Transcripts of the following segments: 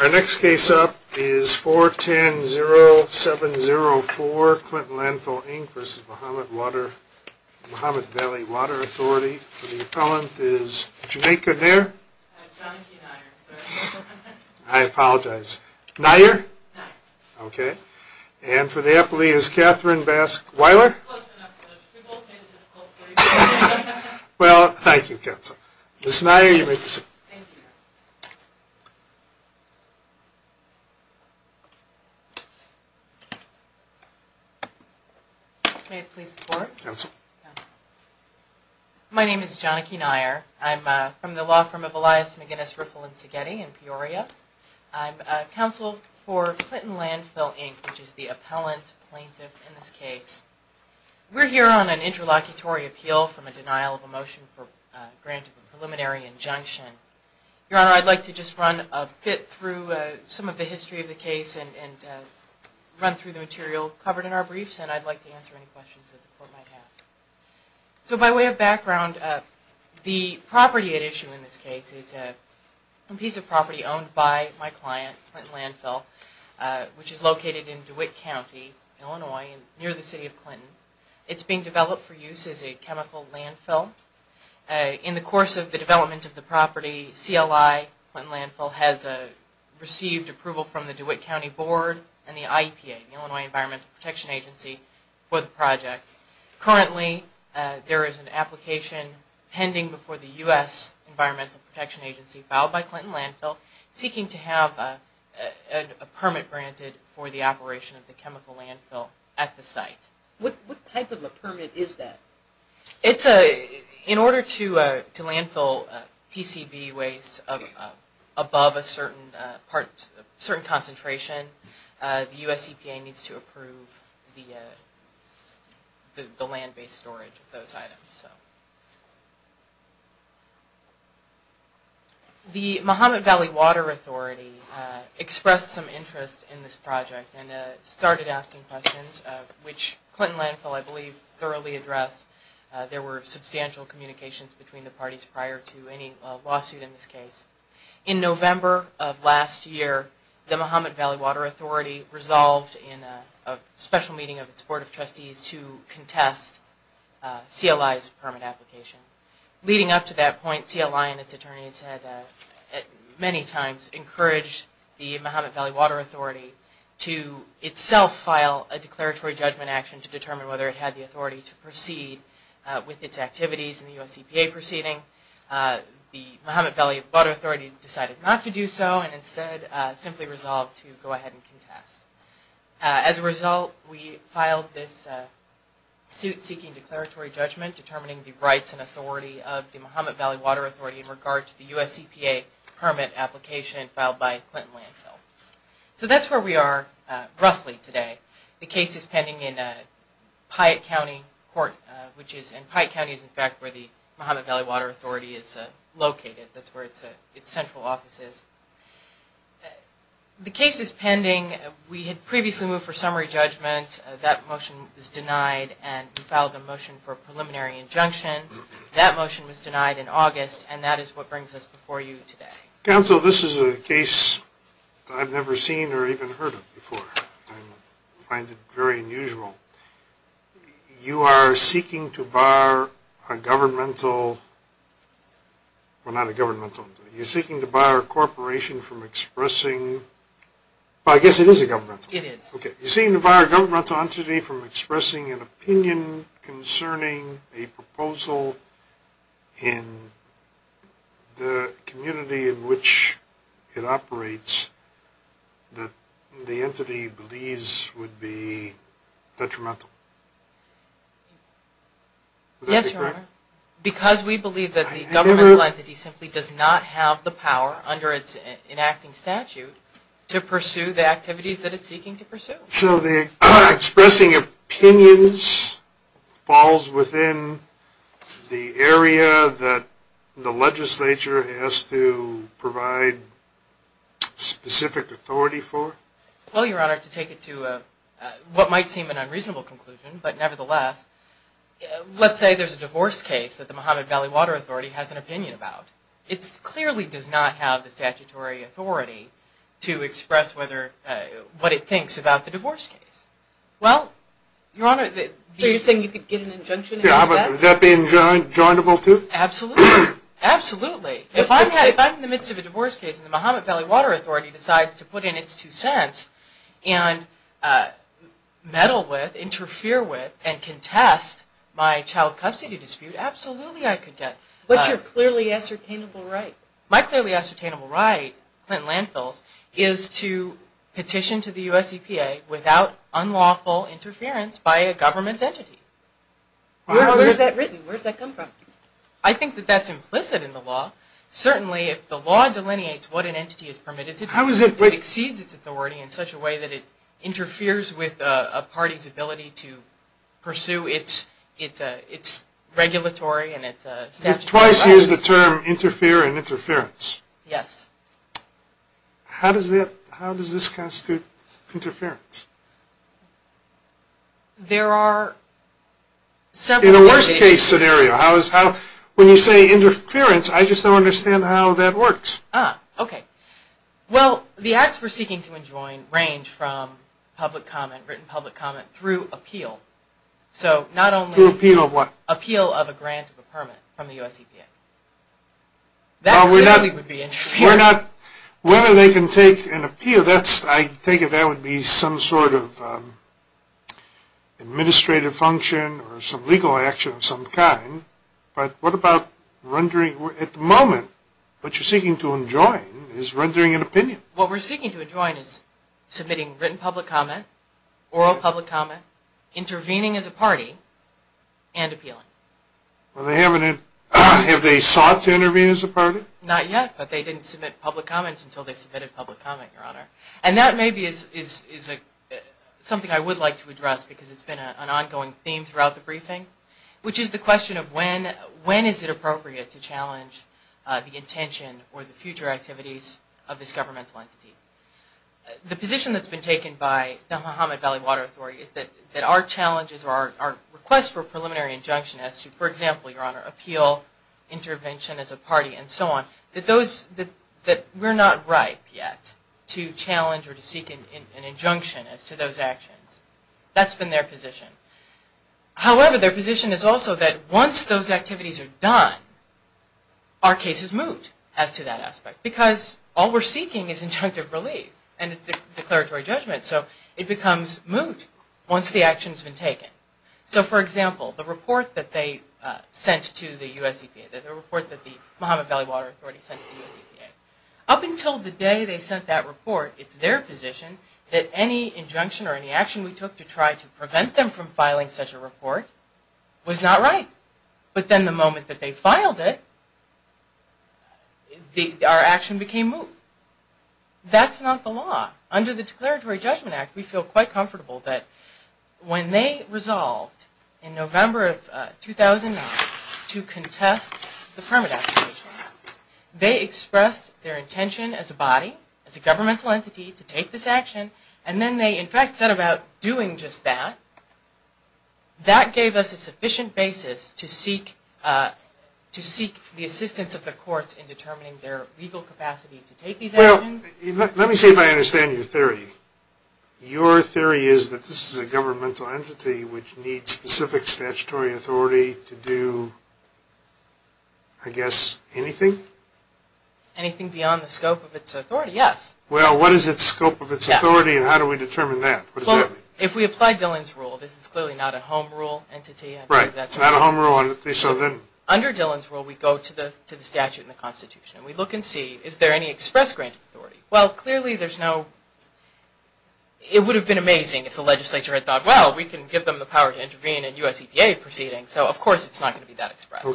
Our next case up is 410-0704 Clinton Landfill, Inc. v. Mahomet Valley Water Authority. The appellant is Jamaica Nair. I apologize. Nair? Nair. Okay. And for the appellee is Katherine Baske-Weiler. Well, thank you, counsel. Ms. Nair, you may proceed. Thank you. May it please the court? Counsel. Counsel. My name is Jonike Nair. I'm from the law firm of Elias McGinnis, Riffle, and Szigeti in Peoria. I'm counsel for Clinton Landfill, Inc., which is the appellant plaintiff in this case. We're here on an interlocutory appeal from a denial of a motion for grant of a preliminary injunction. Your Honor, I'd like to just run a bit through some of the history of the case and run through the material covered in our briefs, and I'd like to answer any questions that the court might have. So by way of background, the property at issue in this case is a piece of property owned by my client, Clinton Landfill, which is located in DeWitt County, Illinois, near the city of Clinton. It's being developed for use as a chemical landfill. In the course of the development of the property, CLI, Clinton Landfill, has received approval from the DeWitt County Board and the IEPA, the Illinois Environmental Protection Agency, for the project. Currently, there is an application pending before the U.S. Environmental Protection Agency, filed by Clinton Landfill, seeking to have a permit granted for the operation of the chemical landfill at the site. What type of a permit is that? In order to landfill PCB waste above a certain concentration, the U.S. EPA needs to approve a permit. The Mahomet Valley Water Authority expressed some interest in this project and started asking questions, which Clinton Landfill, I believe, thoroughly addressed. There were substantial communications between the parties prior to any lawsuit in this case. In November of last year, the Mahomet Valley Water Authority resolved in a special meeting of its Board of Trustees to contest CLI's permit application. Leading up to that point, CLI and its attorneys had many times encouraged the Mahomet Valley Water Authority to itself file a declaratory judgment action to determine whether it had the authority to proceed with its activities in the U.S. EPA proceeding. The Mahomet Valley Water Authority decided not to do so and instead simply resolved to go ahead and contest. As a result, we filed this suit seeking declaratory judgment determining the rights and authority of the Mahomet Valley Water Authority in regard to the U.S. EPA permit application filed by Clinton Landfill. So that's where we are roughly today. The case is pending in Piatt County Court, which is in Piatt County is in fact where the Mahomet Valley Water Authority is located. That's where its central office is. The case is pending. We had previously moved for summary judgment. That motion was denied and we filed a motion for a preliminary injunction. That motion was denied in August and that is what brings us before you today. Counsel, this is a case I've never seen or even heard of before. I find it very unusual. You are seeking to bar a governmental, well not a governmental entity, you're seeking to bar a corporation from expressing, well I guess it is a governmental entity. It is. Okay. You're seeking to bar a governmental entity from expressing an opinion concerning a proposal in the community in which it operates that the entity believes would be detrimental. Yes, Your Honor. Because we believe that the governmental entity simply does not have the power under its enacting statute to pursue the activities that it's seeking to pursue. So the expressing opinions falls within the area that the legislature has to provide specific authority for? Well, Your Honor, to take it to what might seem an unreasonable conclusion, but nevertheless, let's say there's a divorce case that the Mahomet Valley Water Authority has an opinion about. It clearly does not have the statutory authority to express whether, what it thinks about the divorce case. Well, Your Honor, you're saying you could get an injunction against that? Yeah, would that be enjoinable too? Absolutely. Absolutely. If I'm in the midst of a divorce case and the Mahomet Valley Water Authority decides to put in its two cents and meddle with, interfere with, and contest my child custody dispute, absolutely I could get... But your clearly ascertainable right. My clearly ascertainable right, Clinton Landfills, is to petition to the U.S. EPA without unlawful interference by a government entity. Where's that written? Where's that come from? I think that that's implicit in the law. Certainly, if the law delineates what an entity is permitted to do, it exceeds its authority in such a way that it interferes with a party's ability to pursue its regulatory and its statutory... You've twice used the term interfere and interference. Yes. How does that, how does this constitute interference? There are several... In a worst case scenario, how is, how, when you say interference, I just don't understand how that works. Ah, okay. Well, the acts we're seeking to enjoin range from public comment, written public comment, through appeal. So, not only... Through appeal of what? Appeal of a grant of a permit from the U.S. EPA. That clearly would be interference. Well, we're not, we're not, whether they can take an appeal, that's, I take it that would be some sort of administrative function or some legal action of some kind. But what about rendering, at the moment, what you're seeking to enjoin is rendering an opinion. What we're seeking to enjoin is submitting written public comment, oral public comment, intervening as a party, and appealing. Well, they haven't, have they sought to intervene as a party? Not yet, but they didn't submit public comment until they submitted public comment, Your Honor. And that maybe is, is, is a, something I would like to address because it's been an ongoing theme throughout the briefing, which is the question of when, when is it appropriate to challenge the intention or the future activities of this governmental entity. The position that's been taken by the Muhammad Valley Water Authority is that, that our challenges or our, our request for preliminary injunction as to, for example, Your Honor, appeal, intervention as a party and so on, that those, that, that we're not ripe yet to challenge or to seek an, an injunction as to those actions. That's been their position. However, their position is also that once those activities are done, our case is moved as to that aspect, because all we're seeking is injunctive relief and declaratory judgment. So it becomes moot once the action's been taken. So for example, the report that they sent to the U.S. EPA, the report that the Muhammad Valley Water Authority sent to the U.S. EPA, up until the day they sent that report, it's their position that any injunction or any action we took to try to prevent them from filing such a report was not right. But then the moment that they filed it, the, our action became moot. That's not the law. Under the Declaratory Judgment Act, we feel quite comfortable that when they resolved in November of 2009 to contest the permit application, they expressed their intention as a body, as a governmental entity, to take this action, and then they in fact said about doing just that, that gave us a sufficient basis to seek, to seek the assistance of the courts in determining their legal capacity to take these actions. Well, let me see if I understand your theory. Your theory is that this is a governmental entity which needs specific statutory authority to do, I guess, anything? Anything beyond the scope of its authority, yes. Well, what is its scope of its authority, and how do we determine that? If we apply Dillon's Rule, this is clearly not a home rule entity. Right, it's not a home rule entity, so then? Under Dillon's Rule, we go to the statute in the Constitution. We look and see, is there any express granted authority? Well, clearly there's no, it would have been amazing if the legislature had thought, well, we can give them the power to intervene in U.S. EPA proceedings, so of course it's not going to be that express.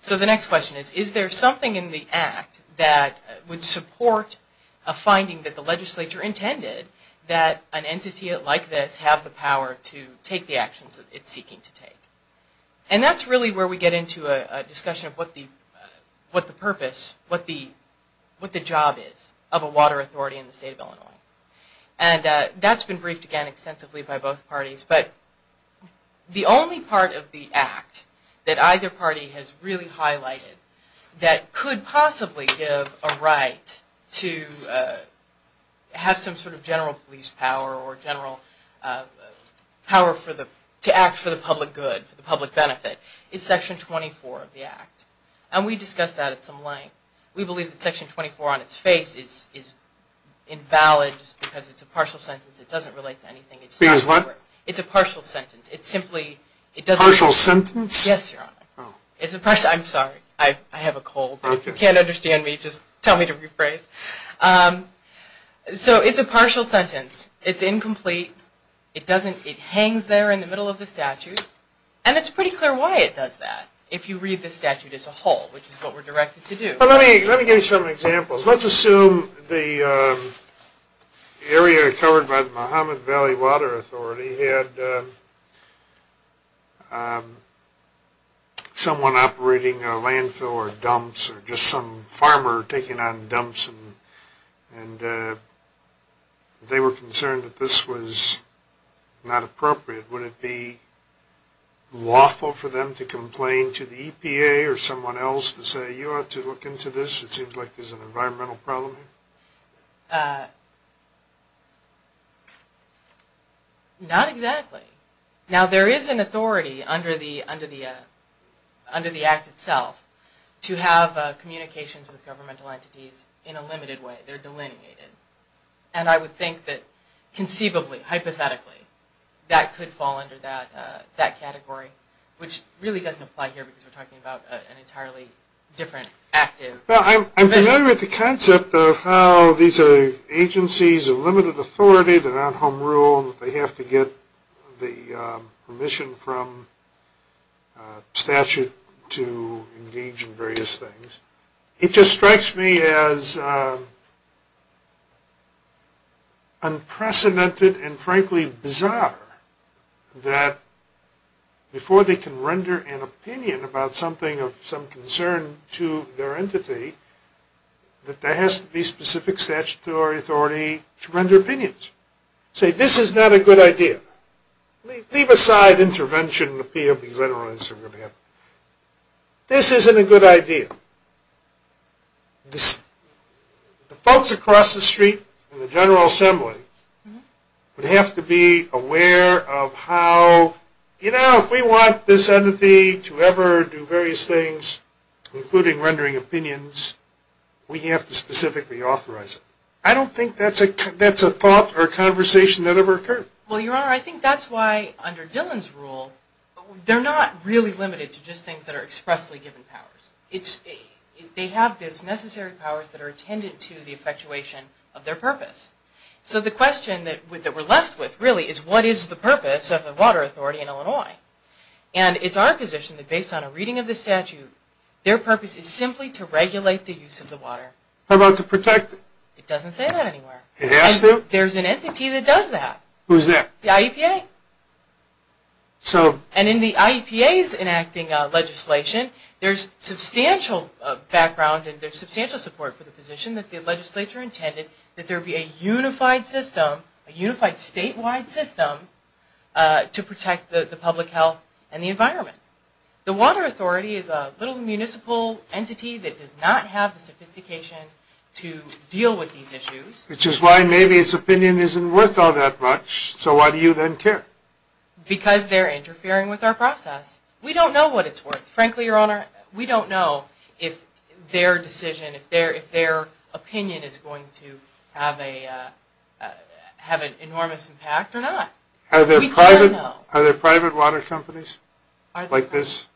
So the next question is, is there something in the Act that would support a finding that the legislature intended that an entity like this have the power to take the actions it's seeking to take? And that's really where we get into a discussion of what the purpose, what the job is of a water authority in the state of Illinois. And that's been briefed again extensively by both parties, but the only part of the Act that either party has really highlighted that could possibly give a right to have some sort of general police power or general power to act for the public good, for the public benefit, is Section 24 of the Act. And we discussed that at some length. We believe that Section 24 on its face is invalid because it's a partial sentence. It doesn't relate to anything. It's a partial sentence. It simply, it doesn't. Partial sentence? Yes, Your Honor. I'm sorry, I have a cold. You can't understand me, just tell me to rephrase. So it's a partial sentence. It's incomplete. It doesn't, it hangs there in the middle of the statute. And it's pretty clear why it does that, if you read the statute as a whole, which is what we're directed to do. Let me give you some examples. Let's assume the area covered by the Muhammad Valley Water Authority had someone operating a landfill or dumps, or just some farmer taking on dumps, and they were concerned that this was not appropriate. Would it be lawful for them to get into this? It seems like there's an environmental problem here. Not exactly. Now, there is an authority under the Act itself to have communications with governmental entities in a limited way. They're delineated. And I would think that conceivably, hypothetically, that could fall under that category, which really doesn't apply here because we're talking about an I'm familiar with the concept of how these are agencies of limited authority, they're not home rule, they have to get the permission from statute to engage in various things. It just strikes me as unprecedented and frankly bizarre that before they can render an opinion about something of some concern to their entity, that there has to be specific statutory authority to render opinions. Say, this is not a good idea. Leave aside intervention and appeal because I don't know what else is going to happen. This isn't a good idea. The folks across the street in the General Assembly would have to be aware of how, you things, including rendering opinions, we have to specifically authorize it. I don't think that's a thought or conversation that ever occurred. Well, Your Honor, I think that's why under Dillon's rule, they're not really limited to just things that are expressly given powers. They have those necessary powers that are attendant to the effectuation of their purpose. So the question that we're left with really is what is the purpose of the Water Authority in Illinois? And it's our position that based on a reading of the statute, their purpose is simply to regulate the use of the water. How about to protect it? It doesn't say that anywhere. It has to? There's an entity that does that. Who's that? The IEPA. So? And in the IEPA's enacting legislation, there's substantial background and there's substantial support for the position that the legislature intended that there be a unified system, a to protect the public health and the environment. The Water Authority is a little municipal entity that does not have the sophistication to deal with these issues. Which is why maybe its opinion isn't worth all that much, so why do you then care? Because they're interfering with our process. We don't know what it's worth. Frankly, Your Honor, we don't know if their decision, if their opinion is going to have an enormous impact or not. Are there private water companies like this?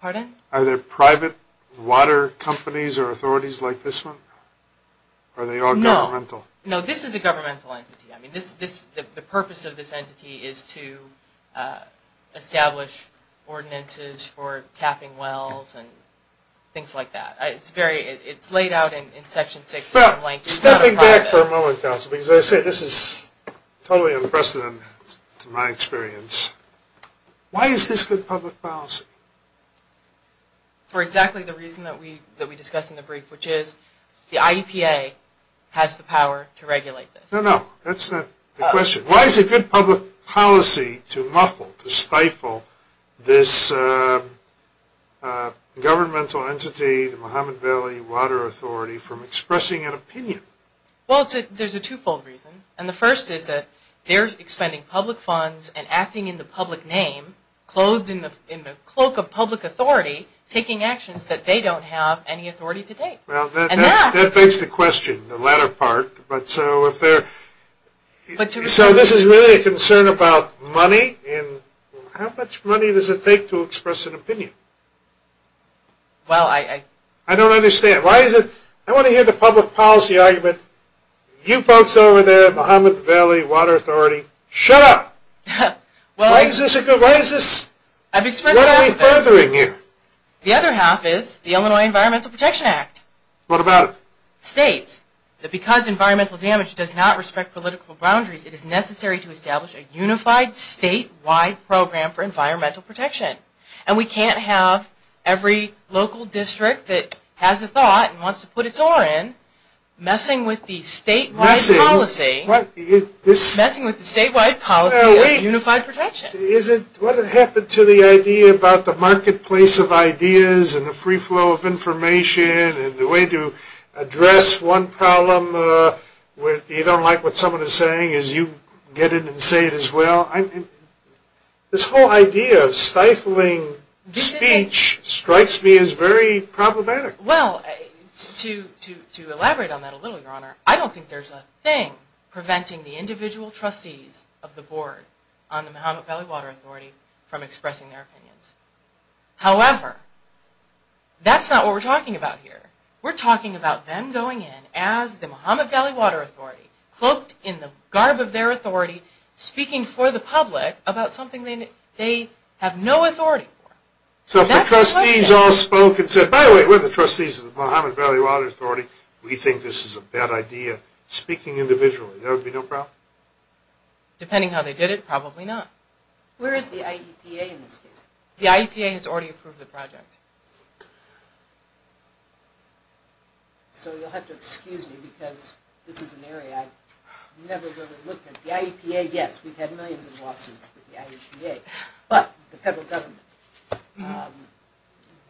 Pardon? Are there private water companies or authorities like this one? No. Are they all governmental? No, this is a governmental entity. I mean, the purpose of this entity is to establish ordinances for capping wells and things like that. It's laid out in Section 6. Stepping back for a moment, counsel, because I say this is totally unprecedented in my experience. Why is this good public policy? For exactly the reason that we discussed in the brief, which is the IEPA has the power to regulate this. No, no, that's not the question. Why is it good public policy to muffle, to stifle this governmental entity, the Muhammad Valley Water Authority, from expressing an opinion? Well, there's a two-fold reason. And the first is that they're expending public funds and acting in the public name, clothed in the cloak of public authority, taking actions that they don't have any authority to take. Well, that begs the question, the latter part. So this is really a concern about money and How much money does it take to express an opinion? Well, I... I don't understand. Why is it... I want to hear the public policy argument. You folks over there, the Muhammad Valley Water Authority, shut up! Well, I... Why is this... I've expressed... What are we furthering here? The other half is the Illinois Environmental Protection Act. What about it? It states that because environmental damage does not respect political boundaries, it is necessary to establish a unified statewide program for environmental protection. And we can't have every local district that has a thought and wants to put its oar in messing with the statewide policy... Messing? What? Messing with the statewide policy of unified protection. Wait. Is it... What happened to the idea about the marketplace of ideas and the free flow of information and the way to address one problem where you don't like what someone is saying as you get it and say it as well? I mean, this whole idea of stifling speech strikes me as very problematic. Well, to elaborate on that a little, Your Honor, I don't think there's a thing preventing the individual trustees of the board on the Muhammad Valley Water Authority from expressing their opinions. However, that's not what we're talking about here. We're talking about them going in as the Muhammad Valley Water Authority, cloaked in the garb of their authority, speaking for the public about something they have no authority for. So if the trustees all spoke and said, by the way, we're the trustees of the Muhammad Valley Water Authority, we think this is a bad idea, speaking individually, there would be no problem? Depending how they did it, probably not. Where is the IEPA in this case? The IEPA has already approved the project. So you'll have to excuse me because this is an area I've never really looked at. The IEPA, yes, we've had millions of lawsuits with the IEPA, but the federal government.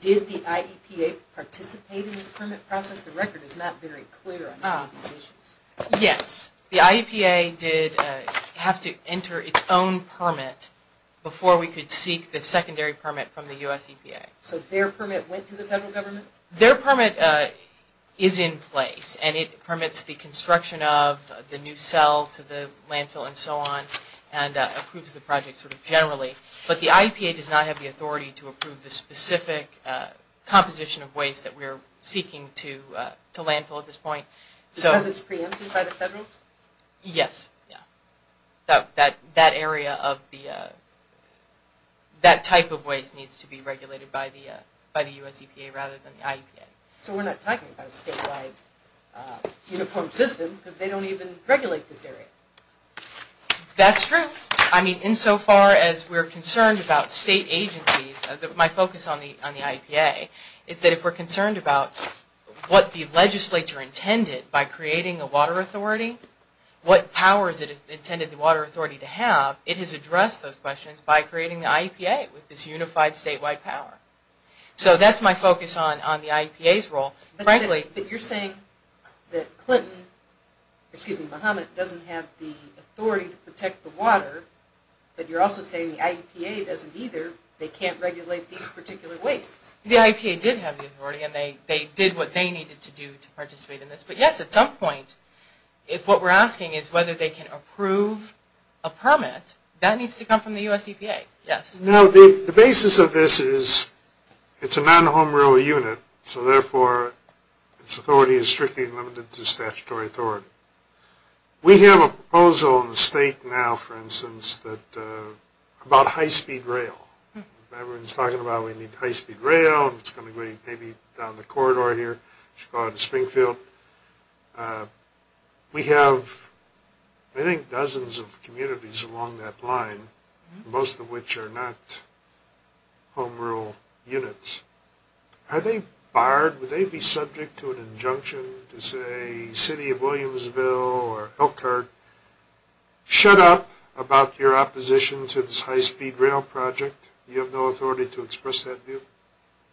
Did the IEPA participate in this permit process? The record is not very clear on these issues. Yes. The IEPA did have to enter its own permit before we could seek the secondary permit from the U.S. EPA. So their permit went to the federal government? Their permit is in place, and it permits the construction of the new cell to the landfill and so on, and approves the project generally. But the IEPA does not have the authority to approve the specific composition of waste that we're seeking to landfill at this point. Because it's preempted by the federals? Yes. That area of the, that type of waste needs to be regulated by the U.S. EPA rather than the IEPA. So we're not talking about a statewide uniform system because they don't even regulate this area? That's true. I mean, insofar as we're concerned about state agencies, my focus on the IEPA is that if we're concerned about what the legislature intended by creating a water authority, what powers it intended the water authority to have, it has addressed those questions by creating the IEPA with this unified statewide power. So that's my focus on the IEPA's role. But you're saying that Clinton, excuse me, Muhammad doesn't have the authority to protect the water, but you're also saying the IEPA doesn't either. They can't regulate these particular wastes. The IEPA did have the authority and they did what they needed to do to participate in this. But yes, at some point, if what we're asking is whether they can approve a permit, that needs to come from the U.S. EPA. Yes. Now the basis of this is it's a non-home rule unit, so therefore its authority is strictly limited to statutory authority. We have a proposal in the state now, for instance, that about high-speed rail. Everyone's talking about we need high-speed rail and it's going to be maybe down the corridor here, Chicago to Springfield. We have, I think, dozens of communities along that line, most of which are not home rule units. Are they barred? Would they be subject to an injunction to say city of Williamsville or Elkhart, shut up about your opposition to this high-speed rail project? You have no authority to express that view?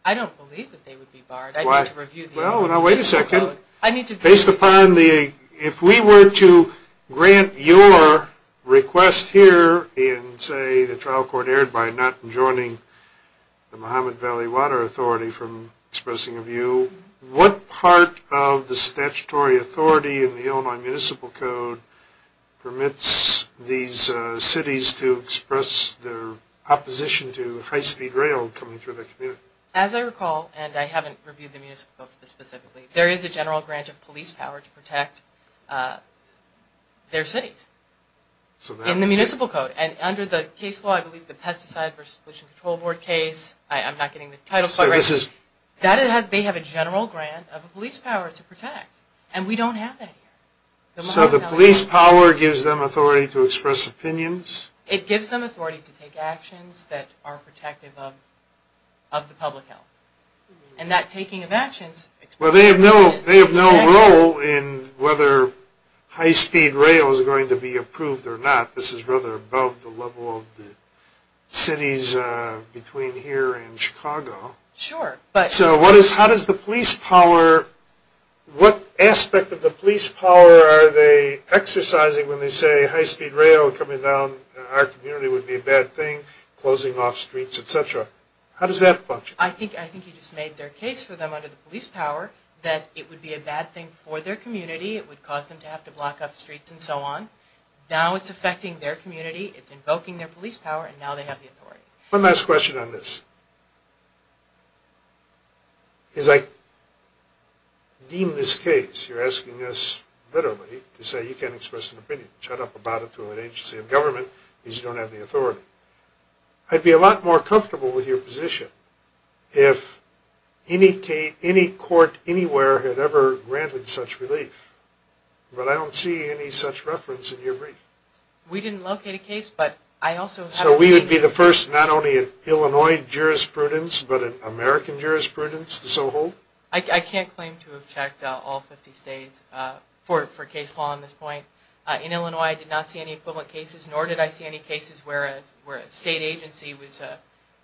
I don't believe that they would be barred. Why? I need to review the Municipal Code. Well, now wait a second. Based upon the, if we were to grant your request here and say the trial court erred by not enjoining the Mahomet Valley Water Authority from expressing a view, what part of the statutory authority in the Illinois Municipal Code permits these cities to express their opposition to high-speed rail coming through their community? As I recall, and I haven't reviewed the Municipal Code for this specifically, there is a general grant of police power to protect their cities in the Municipal Code. And under the case I'm not getting the title, but they have a general grant of police power to protect. And we don't have that here. So the police power gives them authority to express opinions? It gives them authority to take actions that are protective of the public health. And that taking of actions Well, they have no role in whether high-speed rail is going to be approved or not. This is rather above the level of the cities between here and Chicago. Sure. So how does the police power, what aspect of the police power are they exercising when they say high-speed rail coming down our community would be a bad thing, closing off streets, et cetera? How does that function? I think you just made their case for them under the police power that it would be a bad thing for their community. It would cause them to have to block off streets and so on. Now it's affecting their community, it's invoking their police power, and now they have the authority. One last question on this. As I deem this case, you're asking us literally to say you can't express an opinion. Shut up about it to an agency of government because you don't have the authority. I'd be a lot more comfortable with your position if any court anywhere had ever granted such relief, but I don't see any such reference in your brief. We didn't locate a case, but I also have... So we would be the first not only in Illinois jurisprudence, but in American jurisprudence to so hold? I can't claim to have checked all 50 states for case law on this point. In Illinois, I did not see any equivalent cases, nor did I see any cases where a state agency was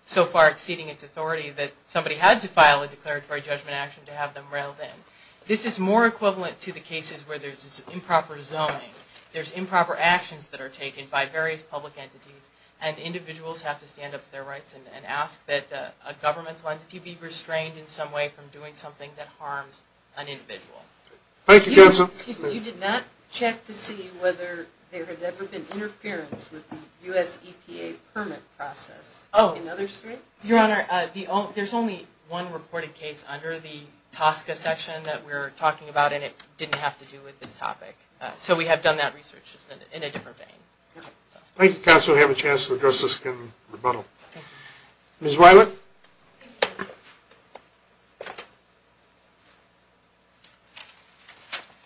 so far exceeding its authority that somebody had to file a declaratory judgment action to have them railed in. This is more equivalent to the cases where there's improper zoning, there's improper actions that are taken by various public entities, and individuals have to stand up for their rights and ask that a governmental entity be restrained in some way from doing something that harms an individual. Thank you, Counsel. You did not check to see whether there had ever been interference with the U.S. EPA permit process in other states? Your Honor, there's only one reported case under the TSCA section that we're talking about, and it didn't have to do with this topic. So we have done that research in a different vein. Thank you, Counsel. We have a chance to address this in rebuttal. Ms. Weiler?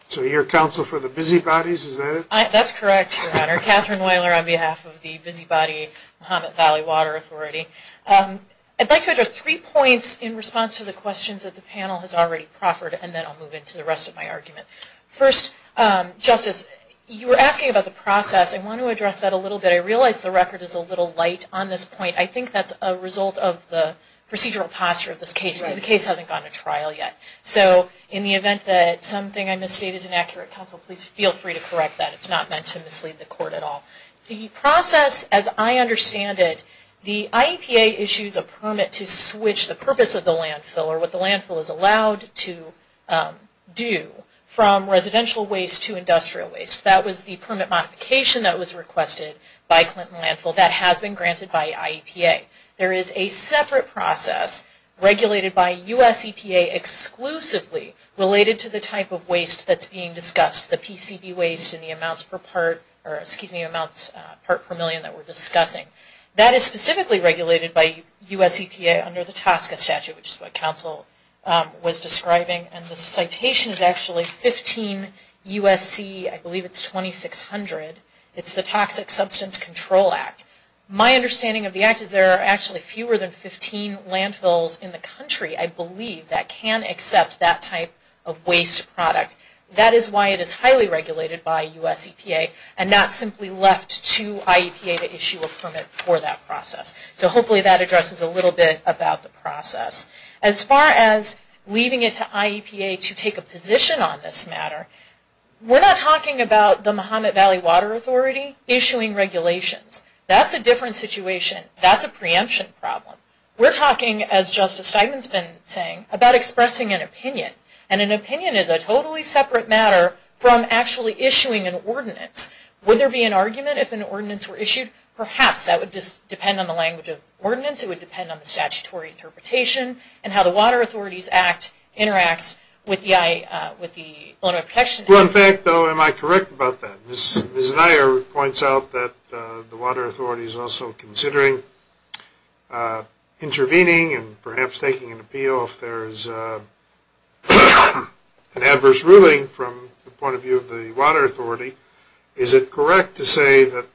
So you're counsel for the Busybodies, is that it? That's correct, Your Honor. Katherine Weiler on behalf of the Busybody Muhammad Valley Water Authority. I'd like to address three points in response to the questions that the panel has already proffered, and then I'll move into the rest of my argument. First, Justice, you were asking about the process. I want to address that a little bit. I realize the record is a little light on this point. I think that's a result of the procedural posture of this case, because the case hasn't gone to trial yet. So in the event that something I misstated is inaccurate, Counsel, please feel free to correct that. It's not meant to mislead the Court at all. The process, as I understand it, the IEPA issues a permit to switch the purpose of the landfill or what the landfill is allowed to do from residential waste to industrial waste. That was the permit modification that was requested by Clinton Landfill. That has been granted by IEPA. There is a separate process regulated by U.S. EPA exclusively related to the type of waste that's being discussed, the PCB waste and the amounts per million that we're discussing. That is specifically regulated by U.S. EPA under the TSCA statute, which is what Counsel was describing, and the citation is actually 15 U.S.C., I believe it's 2600. It's the Toxic Substance Control Act. My understanding of the act is there are actually fewer than 15 landfills in the country, I believe, that can accept that type of waste product. That is why it is highly regulated by U.S. EPA and not simply left to IEPA to issue a permit for that process. So hopefully that addresses a little bit about the process. As far as leaving it to IEPA to take a position on this matter, we're not talking about the Mahomet Valley Water Authority issuing regulations. That's a different situation. That's a preemption problem. We're talking, as Justice actually issuing an ordinance. Would there be an argument if an ordinance were issued? Perhaps that would just depend on the language of ordinance. It would depend on the statutory interpretation and how the Water Authorities Act interacts with the owner protection agency. Well, in fact, though, am I correct about that? Ms. Neier points out that the Water Authorities also considering intervening and perhaps taking an appeal if there is an adverse ruling from the point of view of the Water Authority, is it correct to say that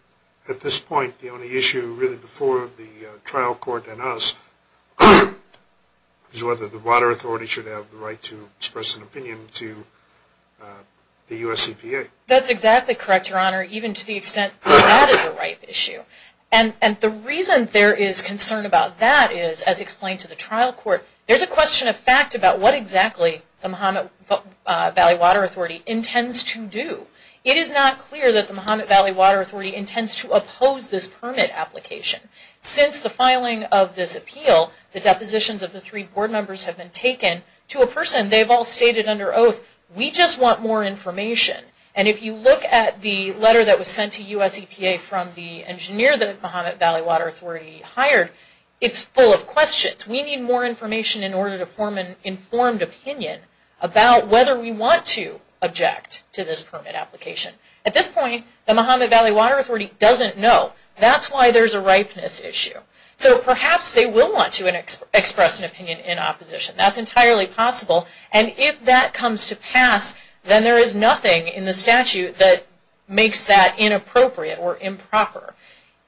at this point the only issue really before the trial court and us is whether the Water Authority should have the right to express an opinion to the U.S. EPA? That's exactly correct, Your Honor, even to the extent that that is a ripe issue. And the reason there is concern about that is, as explained to the trial court, there's a question of fact about what exactly the Muhammad Valley Water Authority intends to do. It is not clear that the Muhammad Valley Water Authority intends to oppose this permit application. Since the filing of this appeal, the depositions of the three board members have been taken to a person they've all stated under oath, we just want more information. And if you look at the letter that was sent to U.S. EPA from the engineer that the Muhammad Valley Water Authority hired, it's full of questions. We need more information in order to form an informed opinion about whether we want to object to this permit application. At this point, the Muhammad Valley Water Authority doesn't know. That's why there's a ripeness issue. So perhaps they will want to express an opinion in opposition. That's entirely possible. And if that comes to pass, then there is nothing in the statute that makes that inappropriate or improper.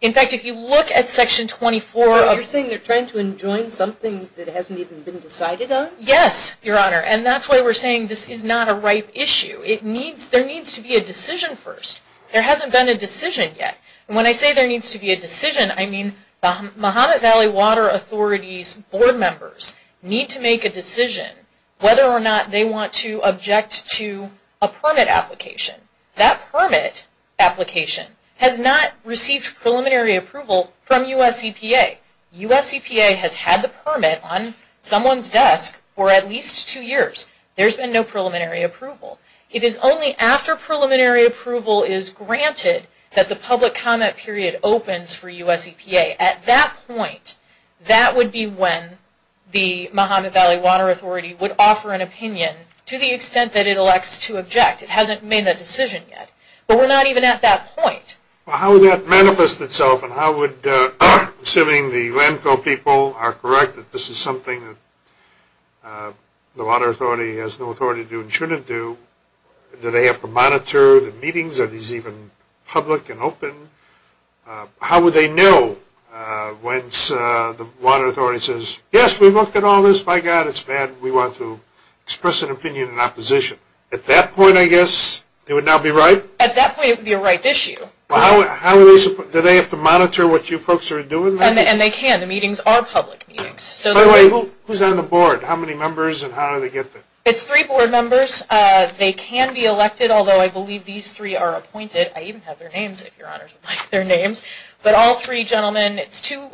In fact, if you look at Section 24... You're saying they're trying to enjoin something that hasn't even been decided on? Yes, Your Honor. And that's why we're saying this is not a ripe issue. There needs to be a decision first. There hasn't been a decision yet. And when I say there needs to be a decision, I mean the Muhammad Valley Water Authority's board members need to make a decision whether or not they want to object to a permit application has not received preliminary approval from U.S. EPA. U.S. EPA has had the permit on someone's desk for at least two years. There's been no preliminary approval. It is only after preliminary approval is granted that the public comment period opens for U.S. EPA. At that point, that would be when the Muhammad Valley Water Authority would offer an opinion to the extent that it elects to object. It hasn't made a decision yet. But we're not even at that point. Well, how would that manifest itself? And how would...assuming the landfill people are correct that this is something that the water authority has no authority to do and shouldn't do, do they have to monitor the meetings? Are these even public and open? How would they know once the water authority says, yes, we looked at all this. By God, it's bad. We want to express an opinion in At that point, it would be a right issue. Do they have to monitor what you folks are doing? And they can. The meetings are public meetings. By the way, who's on the board? How many members and how do they get there? It's three board members. They can be elected, although I believe these three are appointed. I even have their names, if your honors would like their names. But all three gentlemen, it's two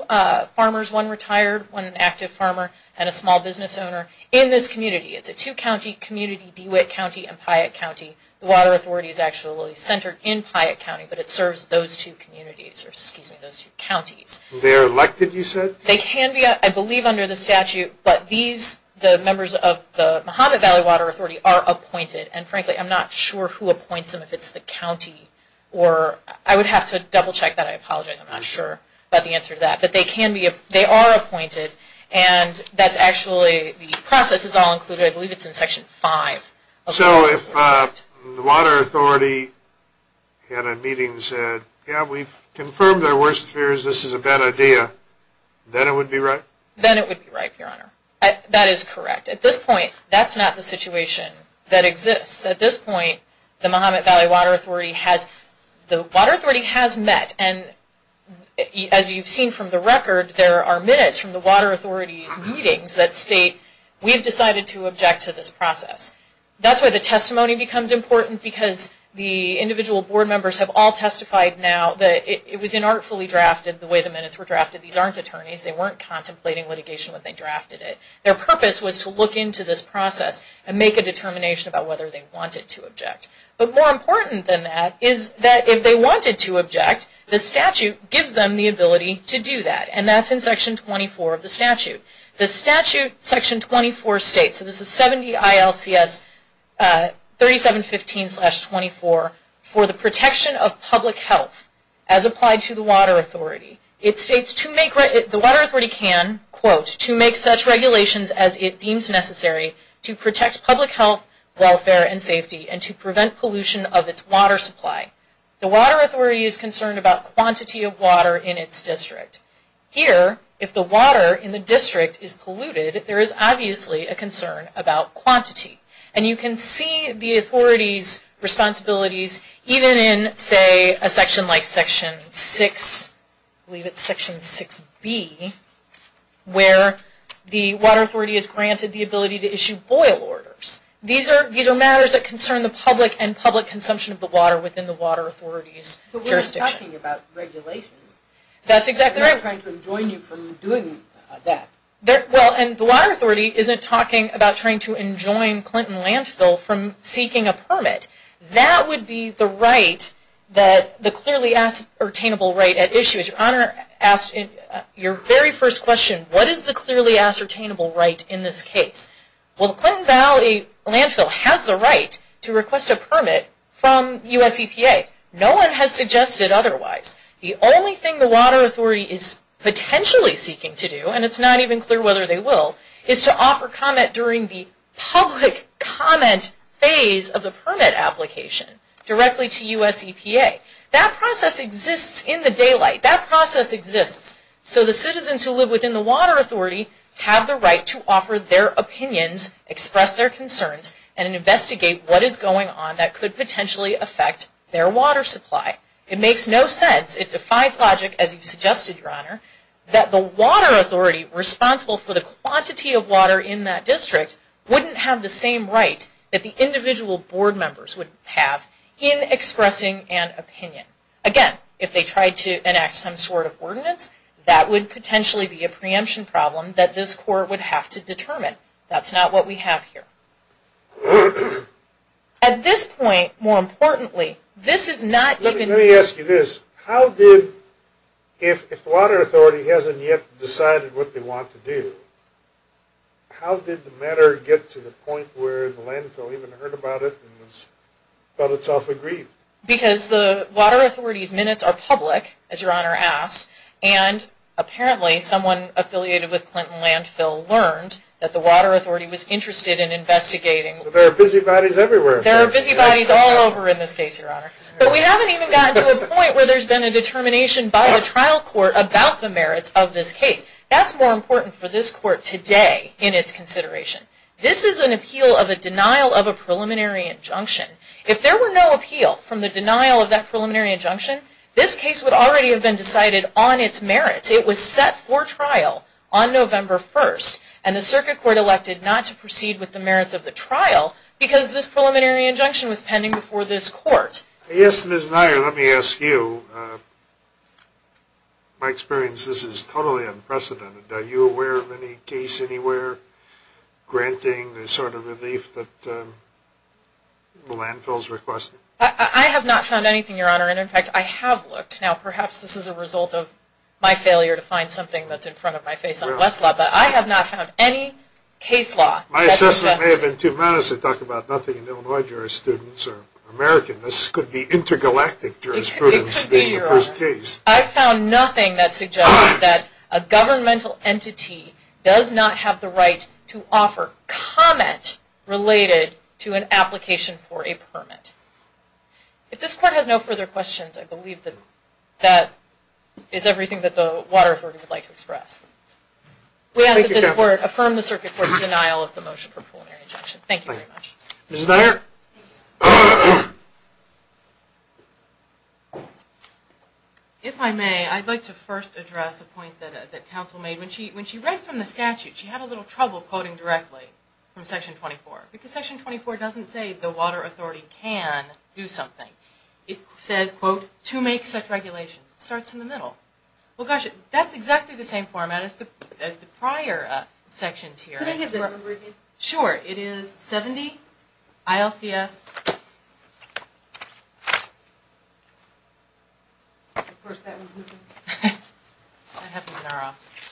farmers, one retired, one an active farmer, and a small business owner in this community. It's a two-county community, DeWitt County and Piatt County. The water authority is actually centered in Piatt County, but it serves those two communities, or excuse me, those two counties. They're elected, you said? They can be, I believe under the statute, but these, the members of the Mojave Valley Water Authority are appointed. And frankly, I'm not sure who appoints them, if it's the county or...I would have to double check that. I apologize. I'm not sure about the answer to that. But they can be...they are appointed. And that's actually...the process is all included, I believe it's in Section 5. So if the water authority at a meeting said, yeah, we've confirmed our worst fears, this is a bad idea, then it would be right? Then it would be right, your honor. That is correct. At this point, that's not the situation that exists. At this point, the Mojave Valley Water Authority has...the water authority has met, and as you've seen from the record, there are minutes from the water authority's meetings that state, we've decided to look into this process. That's where the testimony becomes important, because the individual board members have all testified now that it was inartfully drafted, the way the minutes were drafted. These aren't attorneys. They weren't contemplating litigation when they drafted it. Their purpose was to look into this process and make a determination about whether they wanted to object. But more important than that is that if they wanted to object, the statute gives them the ability to do that. And that's in Section 24 of the statute. The statute, Section 24 states, so this is 70 ILCS 3715-24, for the protection of public health as applied to the water authority. It states, the water authority can, quote, to make such regulations as it deems necessary to protect public health, welfare, and safety, and to prevent pollution of its water supply. The water authority is concerned about quantity of water in its district. Here, if the water in the district is polluted, there is obviously a concern about quantity. And you can see the authority's responsibilities even in, say, a section like Section 6, I believe it's Section 6B, where the water authority is granted the ability to issue boil orders. These are matters that concern the public and public consumption of the water within the water authority's jurisdiction. We're not talking about regulations. That's exactly right. We're not trying to enjoin you from doing that. Well, and the water authority isn't talking about trying to enjoin Clinton Landfill from seeking a permit. That would be the right, the clearly ascertainable right at issue. Your Honor, your very first question, what is the clearly ascertainable right in this case? Well, the Clinton Valley Landfill has the right to request a permit from US EPA. No one has suggested otherwise. The only thing the water authority is potentially seeking to do, and it's not even clear whether they will, is to offer comment during the public comment phase of the permit application directly to US EPA. That process exists in the daylight. That process exists so the citizens who live within the water authority have the right to offer their opinions, express their concerns, and investigate what is going on that could potentially affect their water supply. It makes no sense, it defies logic, as you suggested, your Honor, that the water authority responsible for the quantity of water in that district wouldn't have the same right that the individual board members would have in expressing an opinion. Again, if they tried to enact some sort of ordinance, that would potentially be a preemption problem that this court would have to determine. That's not what we have here. At this point, more importantly, this is not even... Let me ask you this. How did, if the water authority hasn't yet decided what they want to do, how did the matter get to the point where the landfill even heard about it and felt itself agreed? Because the water authority's minutes are public, as your Honor asked, and apparently someone affiliated with Clinton Landfill learned that the water authority was interested in investigating... So there are busy bodies everywhere. There are busy bodies all over in this case, your Honor. But we haven't even gotten to a point where there's been a determination by the trial court about the merits of this case. That's more important for this court today in its consideration. This is an appeal of a denial of a preliminary injunction. If there were no appeal from the denial of that preliminary it was set for trial on November 1st, and the circuit court elected not to proceed with the merits of the trial because this preliminary injunction was pending before this court. Yes, Ms. Neier, let me ask you. My experience is this is totally unprecedented. Are you aware of any case anywhere granting the sort of relief that the landfills requested? I have not found anything, your Honor. And in fact, I have looked. Now perhaps this is a result of my failure to find something that's in front of my face on Westlaw, but I have not found any case law that suggests... My assessment may have been too modest to talk about nothing in Illinois jurisprudence or American. This could be intergalactic jurisprudence being the first case. It could be, your Honor. I've found nothing that suggests that a governmental entity does not have the right to offer comment related to an application for a permit. If this court has no further questions, I believe that that is everything that the water authority would like to express. We ask that this court affirm the circuit court's denial of the motion for preliminary injunction. Thank you very much. Ms. Neier? If I may, I'd like to first address a point that counsel made. When she read from the statute, she had a little trouble quoting directly from section 24. But section 24 doesn't say the water authority can do something. It says, quote, to make such regulations. It starts in the middle. Well, gosh, that's exactly the same format as the prior sections here. Can I have the number again? Sure. It is 70 ILCS... Of course that was missing. That happens in our office.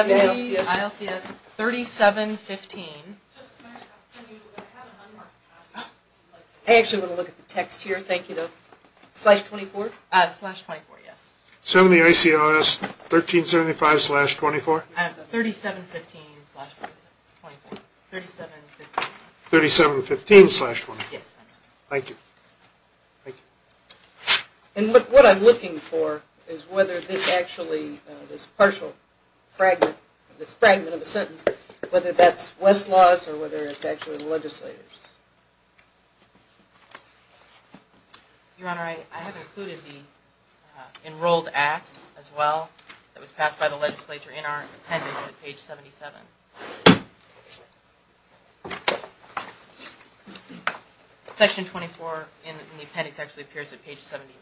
I actually want to look at the text here. Thank you. Slash 24? Slash 24, yes. 70 ILCS 1375 slash 24? 3715 slash 24. 3715 slash 24. Thank you. Thank you. Thank you. Thank you. Thank you. Thank you. Thank you. And what I'm looking for is whether this actually, this partial fragment, this fragment of a sentence, whether that's Westlaw's or whether it's actually the legislator's. Your Honor, I have included the enrolled act as well that was passed by the legislature in our appendix at page 77. Section 24 in the appendix actually appears at page 79.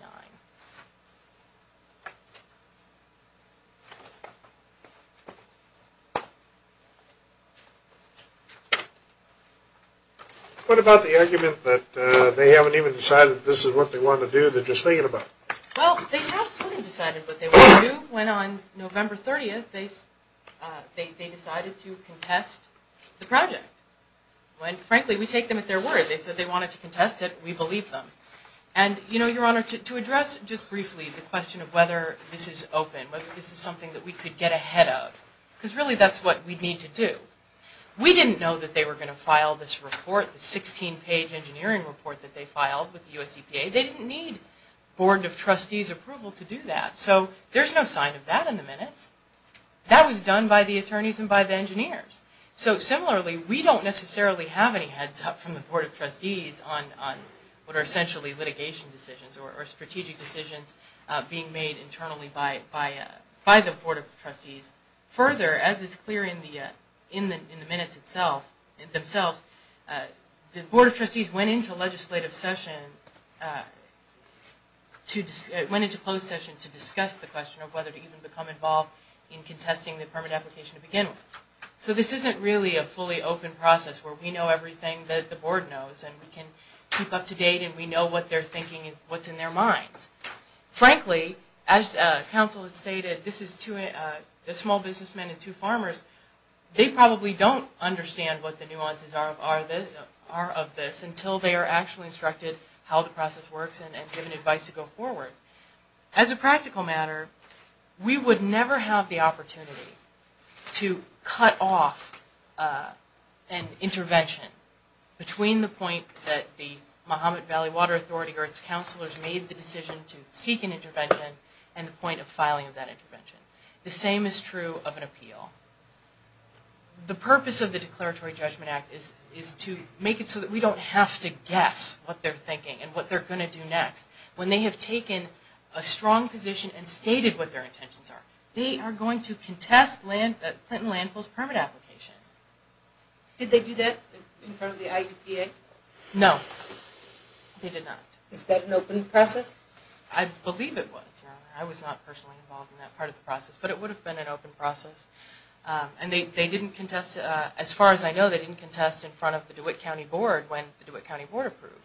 What about the argument that they haven't even decided that this is what they want to do, they're just thinking about it? Well, they have sort of decided what they want to do. They wanted to contest the project. When, frankly, we take them at their word. They said they wanted to contest it. We believe them. And, you know, Your Honor, to address just briefly the question of whether this is open, whether this is something that we could get ahead of, because really that's what we need to do. We didn't know that they were going to file this report, the 16-page engineering report that they filed with the US EPA. They didn't need Board of Trustees approval to do that. So there's no sign of that in the minutes. That was done by the attorneys and by the engineers. So, similarly, we don't necessarily have any heads up from the Board of Trustees on what are essentially litigation decisions or strategic decisions being made internally by the Board of Trustees. Further, as is clear in the minutes themselves, the Board of Trustees went into legislative session, went into closed session to discuss the question of whether to even become involved in contesting the permit application to begin with. So this isn't really a fully open process where we know everything that the Board knows and we can keep up to date and we know what they're thinking and what's in their minds. Frankly, as counsel had stated, this is two small businessmen and two farmers, they probably don't understand what the nuances are of this until they are actually instructed how the process works and given advice to go forward. As a practical matter, we would never have the opportunity to cut off an intervention between the point that the Mahomet Valley Water Authority or its counselors made the decision to seek an intervention and the point of filing of that intervention. The same is true of an appeal. The purpose of the Declaratory Judgment Act is to make it so that we don't have to guess what they're thinking and what they're going to do next. When they have taken a strong position and stated what their intentions are, they are going to contest Clinton Landfill's permit application. Did they do that in front of the IEPA? No, they did not. Is that an open process? I believe it was, Your Honor. I was not personally involved in that part of the process, but it would have been an open process. And they didn't contest, as far as I know, they didn't contest in front of the DeWitt County Board when the DeWitt County Board approved.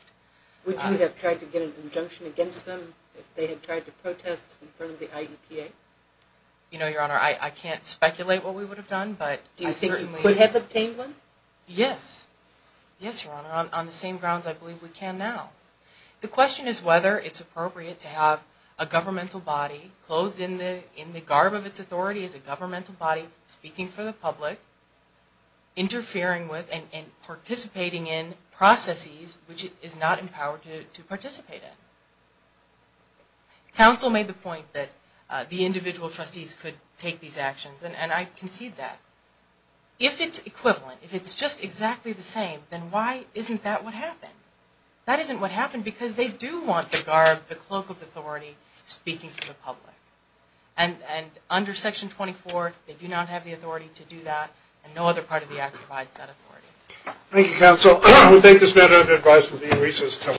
Would you have tried to get an injunction against them if they had tried to protest in front of the IEPA? You know, Your Honor, I can't speculate what we would have done, but I think you could have obtained one? Yes. Yes, Your Honor, on the same grounds I believe we can now. The question is whether it's appropriate to have a governmental body clothed in the garb of its authority as a governmental body speaking for the public, interfering with and participating in processes which it is not empowered to participate in. Counsel made the point that the individual trustees could take these actions, and I concede that. If it's equivalent, if it's just exactly the same, then why isn't that what happened? That isn't what happened because they do want the garb, the cloak of authority speaking for the public. And under Section 24, they do not have the authority to do that, and no other part of the act provides that authority. Thank you, Counsel. I would take this matter under advice from Dean Reese's.